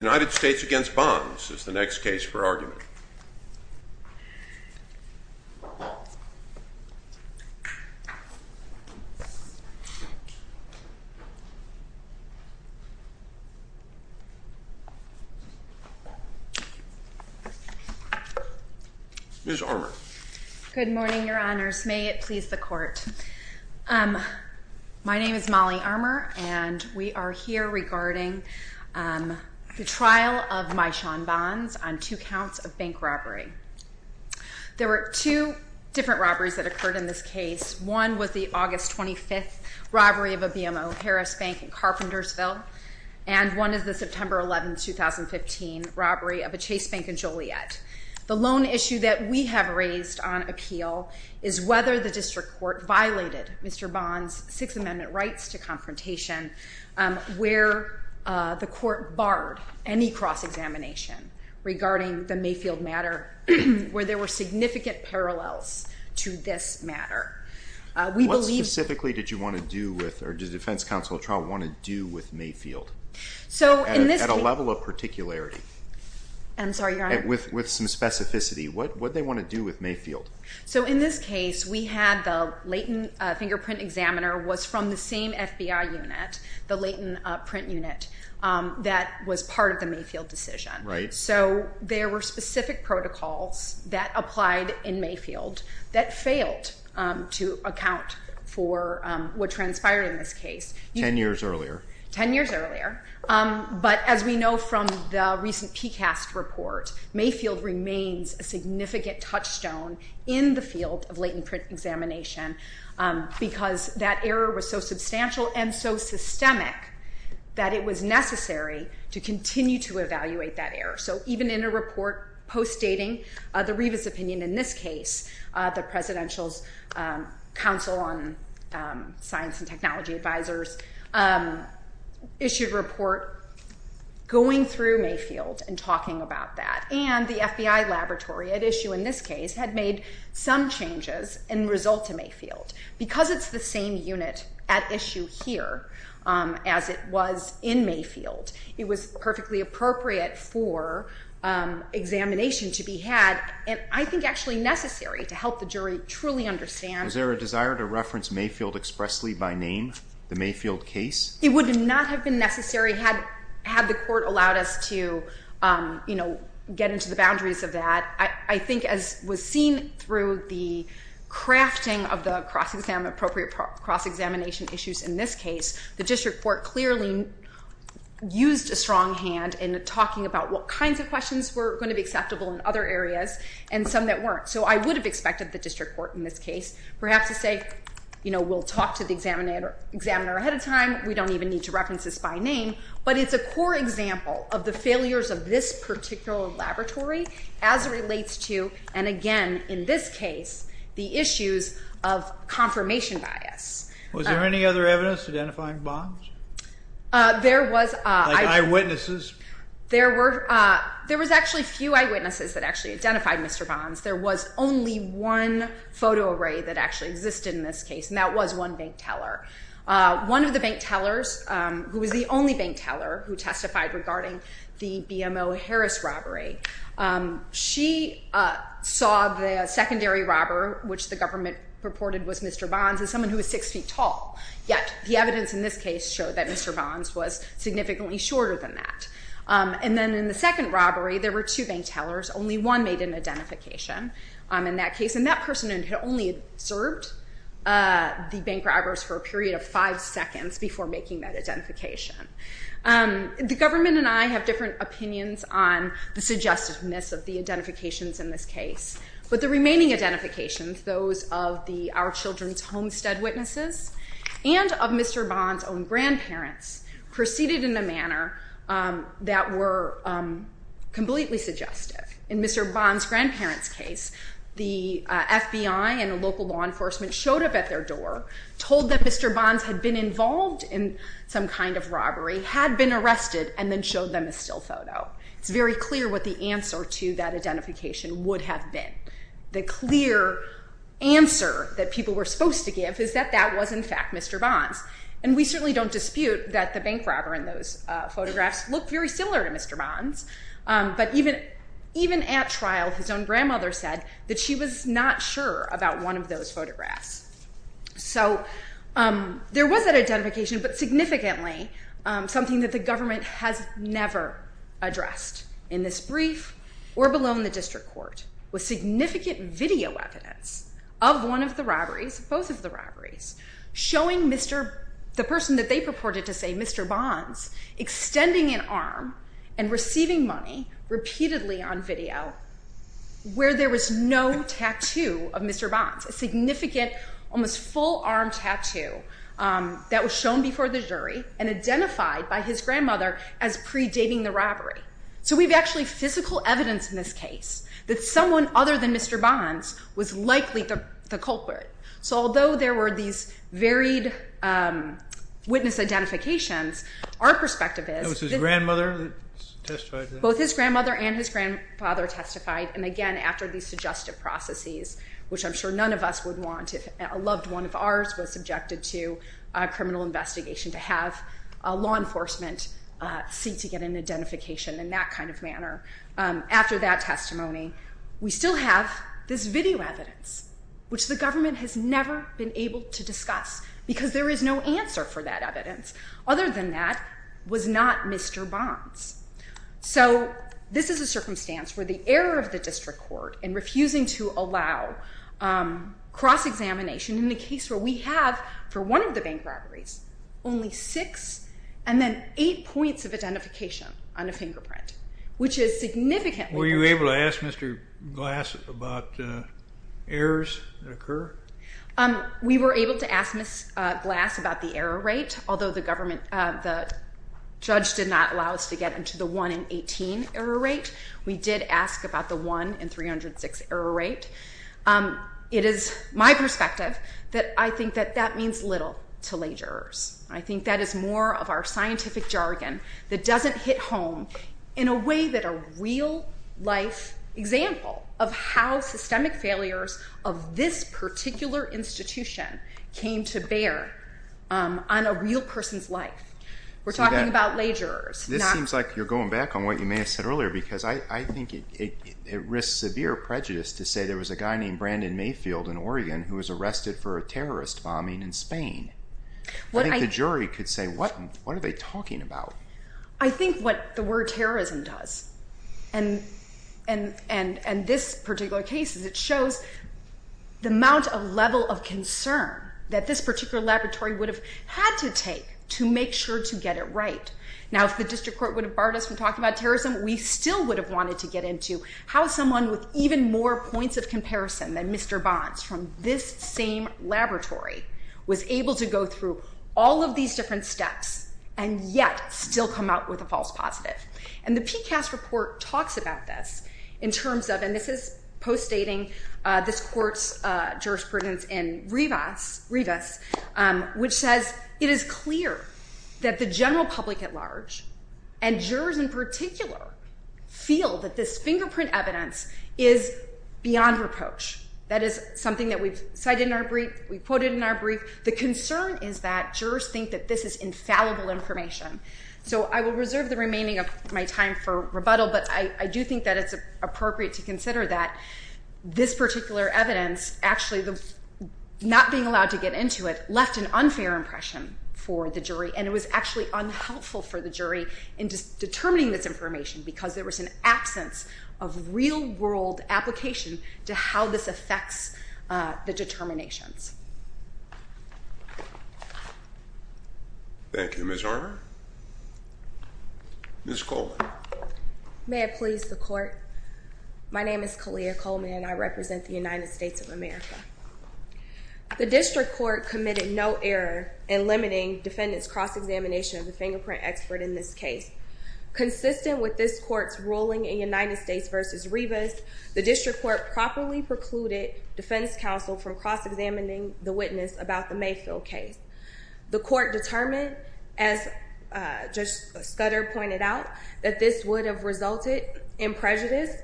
The United States v. Bonds is the next case for argument. Ms. Armour. Good morning, Your Honors. May it please the Court. My name is Molly Armour and we are here regarding the trial of Myshawn Bonds on two counts of bank robbery. There were two different robberies that occurred in this case. One was the August 25th robbery of a BMO, Harris Bank in Carpentersville, and one is the September 11, 2015 robbery of a Chase Bank in Joliet. The lone issue that we have raised on appeal is whether the District Court violated Mr. Bonds' Sixth Amendment rights to confrontation, where the Court barred any cross-examination regarding the Mayfield matter, where there were significant parallels to this matter. What specifically did you want to do with, or did the Defense Counsel want to do with Mayfield at a level of particularity? I'm sorry, Your Honor. With some specificity, what did they want to do with Mayfield? So in this case, we had the latent fingerprint examiner was from the same FBI unit, the latent print unit, that was part of the Mayfield decision. Right. So there were specific protocols that applied in Mayfield that failed to account for what transpired in this case. Ten years earlier. Ten years earlier. But as we know from the recent PCAST report, Mayfield remains a significant touchstone in the field of latent print examination because that error was so substantial and so systemic that it was necessary to continue to evaluate that error. So even in a report post-dating the Rivas opinion in this case, the Presidential's Council on Science and Technology Advisors issued a report going through Mayfield and talking about that. And the FBI laboratory at issue in this case had made some changes and result to Mayfield. Because it's the same unit at issue here as it was in Mayfield, it was perfectly appropriate for examination to be had and I think actually necessary to help the jury truly understand. Was there a desire to reference Mayfield expressly by name, the Mayfield case? It would not have been necessary had the court allowed us to, you know, get into the boundaries of that. I think as was seen through the crafting of the cross-examination issues in this case, the district court clearly used a strong hand in talking about what kinds of questions were going to be acceptable in other areas and some that weren't. So I would have expected the district court in this case perhaps to say, you know, we'll talk to the examiner ahead of time. We don't even need to reference this by name. But it's a core example of the failures of this particular laboratory as it relates to, and again in this case, the issues of confirmation bias. Was there any other evidence identifying Bonds? There was. Like eyewitnesses? There was actually few eyewitnesses that actually identified Mr. Bonds. There was only one photo array that actually existed in this case and that was one bank teller. One of the bank tellers, who was the only bank teller who testified regarding the BMO Harris robbery, she saw the secondary robber, which the government reported was Mr. Bonds, as someone who was six feet tall. Yet the evidence in this case showed that Mr. Bonds was significantly shorter than that. And then in the second robbery, there were two bank tellers. Only one made an identification in that case. And that person had only served the bank robbers for a period of five seconds before making that identification. The government and I have different opinions on the suggestiveness of the identifications in this case. But the remaining identifications, those of our children's homestead witnesses and of Mr. Bonds' own grandparents, proceeded in a manner that were completely suggestive. In Mr. Bonds' grandparents' case, the FBI and the local law enforcement showed up at their door, told that Mr. Bonds had been involved in some kind of robbery, had been arrested, and then showed them a still photo. It's very clear what the answer to that identification would have been. The clear answer that people were supposed to give is that that was, in fact, Mr. Bonds. And we certainly don't dispute that the bank robber in those photographs looked very similar to Mr. Bonds. But even at trial, his own grandmother said that she was not sure about one of those photographs. So there was that identification. But significantly, something that the government has never addressed in this brief or below in the district court was significant video evidence of one of the robberies, both of the robberies, showing the person that they purported to say, Mr. Bonds, extending an arm and receiving money repeatedly on video where there was no tattoo of Mr. Bonds. A significant, almost full-arm tattoo that was shown before the jury and identified by his grandmother as predating the robbery. So we've actually physical evidence in this case that someone other than Mr. Bonds was likely the culprit. So although there were these varied witness identifications, our perspective is— It was his grandmother that testified to that? And again, after these suggestive processes, which I'm sure none of us would want if a loved one of ours was subjected to a criminal investigation, to have law enforcement seek to get an identification in that kind of manner. After that testimony, we still have this video evidence, which the government has never been able to discuss because there is no answer for that evidence. Other than that was not Mr. Bonds. So this is a circumstance where the error of the district court in refusing to allow cross-examination in the case where we have, for one of the bank robberies, only six and then eight points of identification on a fingerprint, which is significant. Were you able to ask Mr. Glass about errors that occur? We were able to ask Ms. Glass about the error rate, although the judge did not allow us to get into the 1 in 18 error rate. We did ask about the 1 in 306 error rate. It is my perspective that I think that that means little to leisurers. I think that is more of our scientific jargon that doesn't hit home in a way that a real-life example of how systemic failures of this particular institution came to bear on a real person's life. We're talking about leisurers. This seems like you're going back on what you may have said earlier because I think it risks severe prejudice to say there was a guy named Brandon Mayfield in Oregon who was arrested for a terrorist bombing in Spain. I think the jury could say, what are they talking about? I think what the word terrorism does, and this particular case, is it shows the amount of level of concern that this particular laboratory would have had to take to make sure to get it right. Now, if the district court would have barred us from talking about terrorism, we still would have wanted to get into how someone with even more points of comparison than Mr. Bonds from this same laboratory was able to go through all of these different steps and yet still come out with a false positive. And the PCAST report talks about this in terms of, and this is post-dating this court's jurisprudence in Rivas, which says it is clear that the general public at large, and jurors in particular, feel that this fingerprint evidence is beyond reproach. That is something that we've cited in our brief, we've quoted in our brief. The concern is that jurors think that this is infallible information. So I will reserve the remaining of my time for rebuttal, but I do think that it's appropriate to consider that this particular evidence, actually not being allowed to get into it, left an unfair impression for the jury, and it was actually unhelpful for the jury in determining this information, because there was an absence of real-world application to how this affects the determinations. Thank you, Ms. Arner. Ms. Coleman. May it please the court. My name is Kalia Coleman, and I represent the United States of America. The district court committed no error in limiting defendants' cross-examination of the fingerprint expert in this case. Consistent with this court's ruling in United States v. Rivas, the district court properly precluded defense counsel from cross-examining the witness about the Mayfield case. The court determined, as Judge Scudder pointed out, that this would have resulted in prejudice,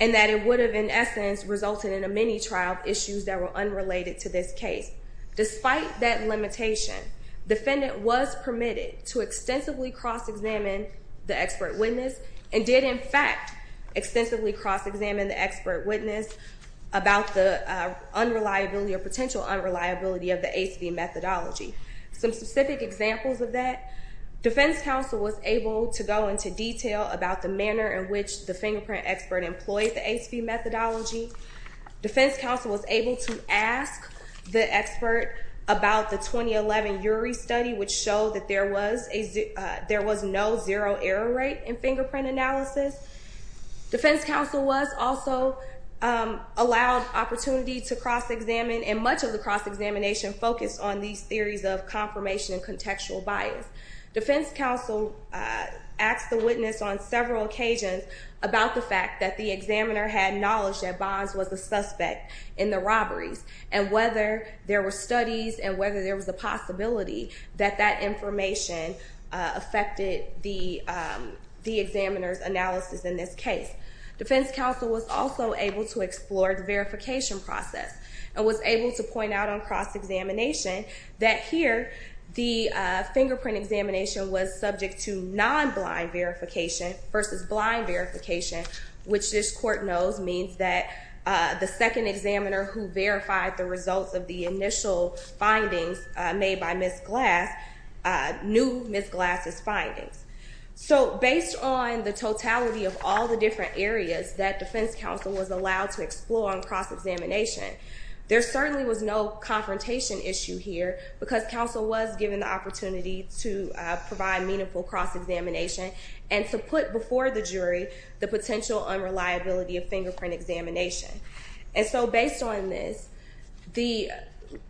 and that it would have, in essence, resulted in a mini-trial of issues that were unrelated to this case. Despite that limitation, defendant was permitted to extensively cross-examine the expert witness, and did, in fact, extensively cross-examine the expert witness about the unreliability or potential unreliability of the ACV methodology. Some specific examples of that. Defense counsel was able to go into detail about the manner in which the fingerprint expert employed the ACV methodology. Defense counsel was able to ask the expert about the 2011 URI study, which showed that there was no zero error rate in fingerprint analysis. Defense counsel was also allowed opportunity to cross-examine, and much of the cross-examination focused on these theories of confirmation and contextual bias. Defense counsel asked the witness on several occasions about the fact that the examiner had knowledge that Bonds was the suspect in the robberies, and whether there were studies, and whether there was a possibility that that information affected the examiner's analysis in this case. Defense counsel was also able to explore the verification process, and was able to point out on cross-examination that here, the fingerprint examination was subject to non-blind verification versus blind verification, which this court knows means that the second examiner who verified the results of the initial findings made by Ms. Glass knew Ms. Glass's findings. Based on the totality of all the different areas that defense counsel was allowed to explore on cross-examination, there certainly was no confrontation issue here, because counsel was given the opportunity to provide meaningful cross-examination, and to put before the jury the potential unreliability of fingerprint examination. Based on this, the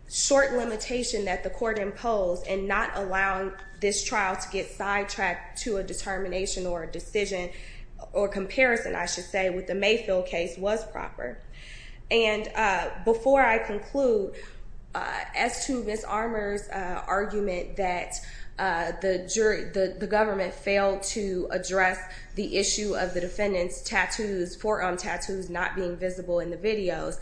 short limitation that the court imposed in not allowing this trial to get sidetracked to a determination or a decision, or comparison, I should say, with the Mayfield case was proper. Before I conclude, as to Ms. Armour's argument that the government failed to address the issue of the defendant's tattoos, forearm tattoos not being visible in the videos,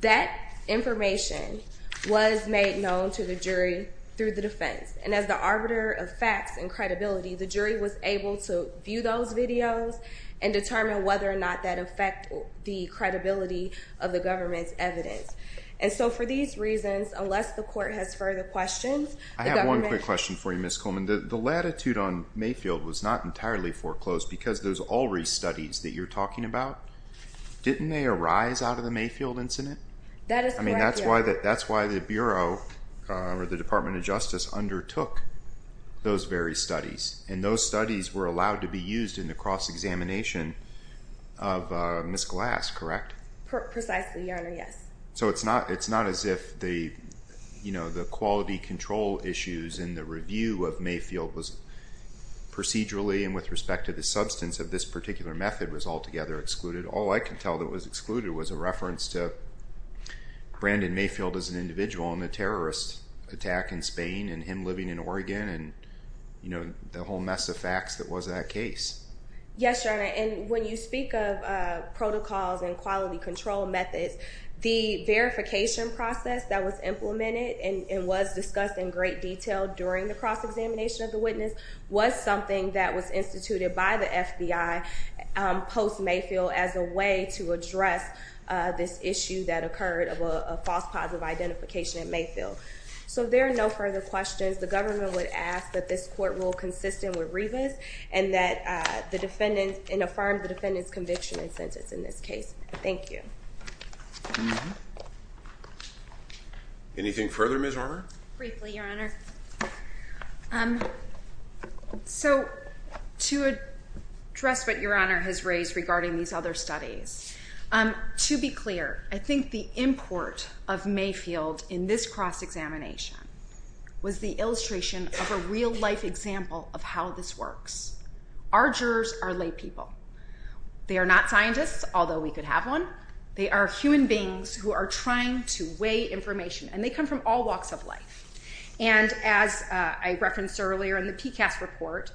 that information was made known to the jury through the defense. And as the arbiter of facts and credibility, the jury was able to view those videos and determine whether or not that affected the credibility of the government's evidence. And so for these reasons, unless the court has further questions, the government… I have one quick question for you, Ms. Coleman. The latitude on Mayfield was not entirely foreclosed because those Ulrey studies that you're talking about, didn't they arise out of the Mayfield incident? I mean, that's why the Bureau or the Department of Justice undertook those very studies. And those studies were allowed to be used in the cross-examination of Ms. Glass, correct? Precisely, Your Honor, yes. So it's not as if the quality control issues in the review of Mayfield was procedurally and with respect to the substance of this particular method was altogether excluded. All I could tell that was excluded was a reference to Brandon Mayfield as an individual and the terrorist attack in Spain and him living in Oregon and, you know, the whole mess of facts that was in that case. Yes, Your Honor, and when you speak of protocols and quality control methods, the verification process that was implemented and was discussed in great detail during the cross-examination of the witness was something that was instituted by the FBI post-Mayfield as a way to address this issue that occurred of a false positive identification in Mayfield. So there are no further questions. The government would ask that this court rule consistent with Rivas and that the defendant and affirm the defendant's conviction and sentence in this case. Thank you. Briefly, Your Honor. So to address what Your Honor has raised regarding these other studies, to be clear, I think the import of Mayfield in this cross-examination was the illustration of a real-life example of how this works. Our jurors are laypeople. They are not scientists, although we could have one. They are human beings who are trying to weigh information, and they come from all walks of life. And as I referenced earlier in the PCAST report,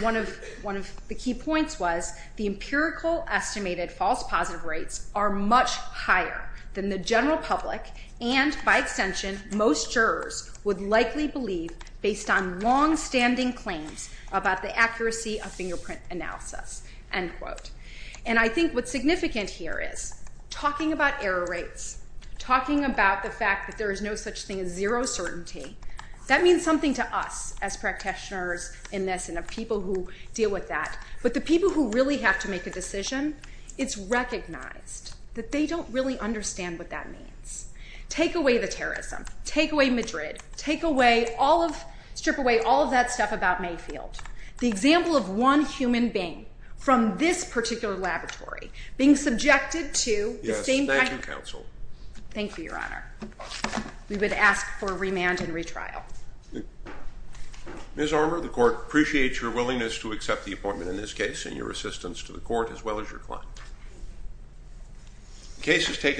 one of the key points was the empirical estimated false positive rates are much higher than the general public and, by extension, most jurors would likely believe based on longstanding claims about the accuracy of fingerprint analysis. And I think what's significant here is talking about error rates, talking about the fact that there is no such thing as zero certainty, that means something to us as practitioners in this and the people who deal with that. But the people who really have to make a decision, it's recognized that they don't really understand what that means. Take away the terrorism, take away Madrid, strip away all of that stuff about Mayfield. The example of one human being from this particular laboratory being subjected to the same kind of— Yes, thank you, counsel. Thank you, Your Honor. We would ask for remand and retrial. Ms. Armour, the court appreciates your willingness to accept the appointment in this case and your assistance to the court as well as your client.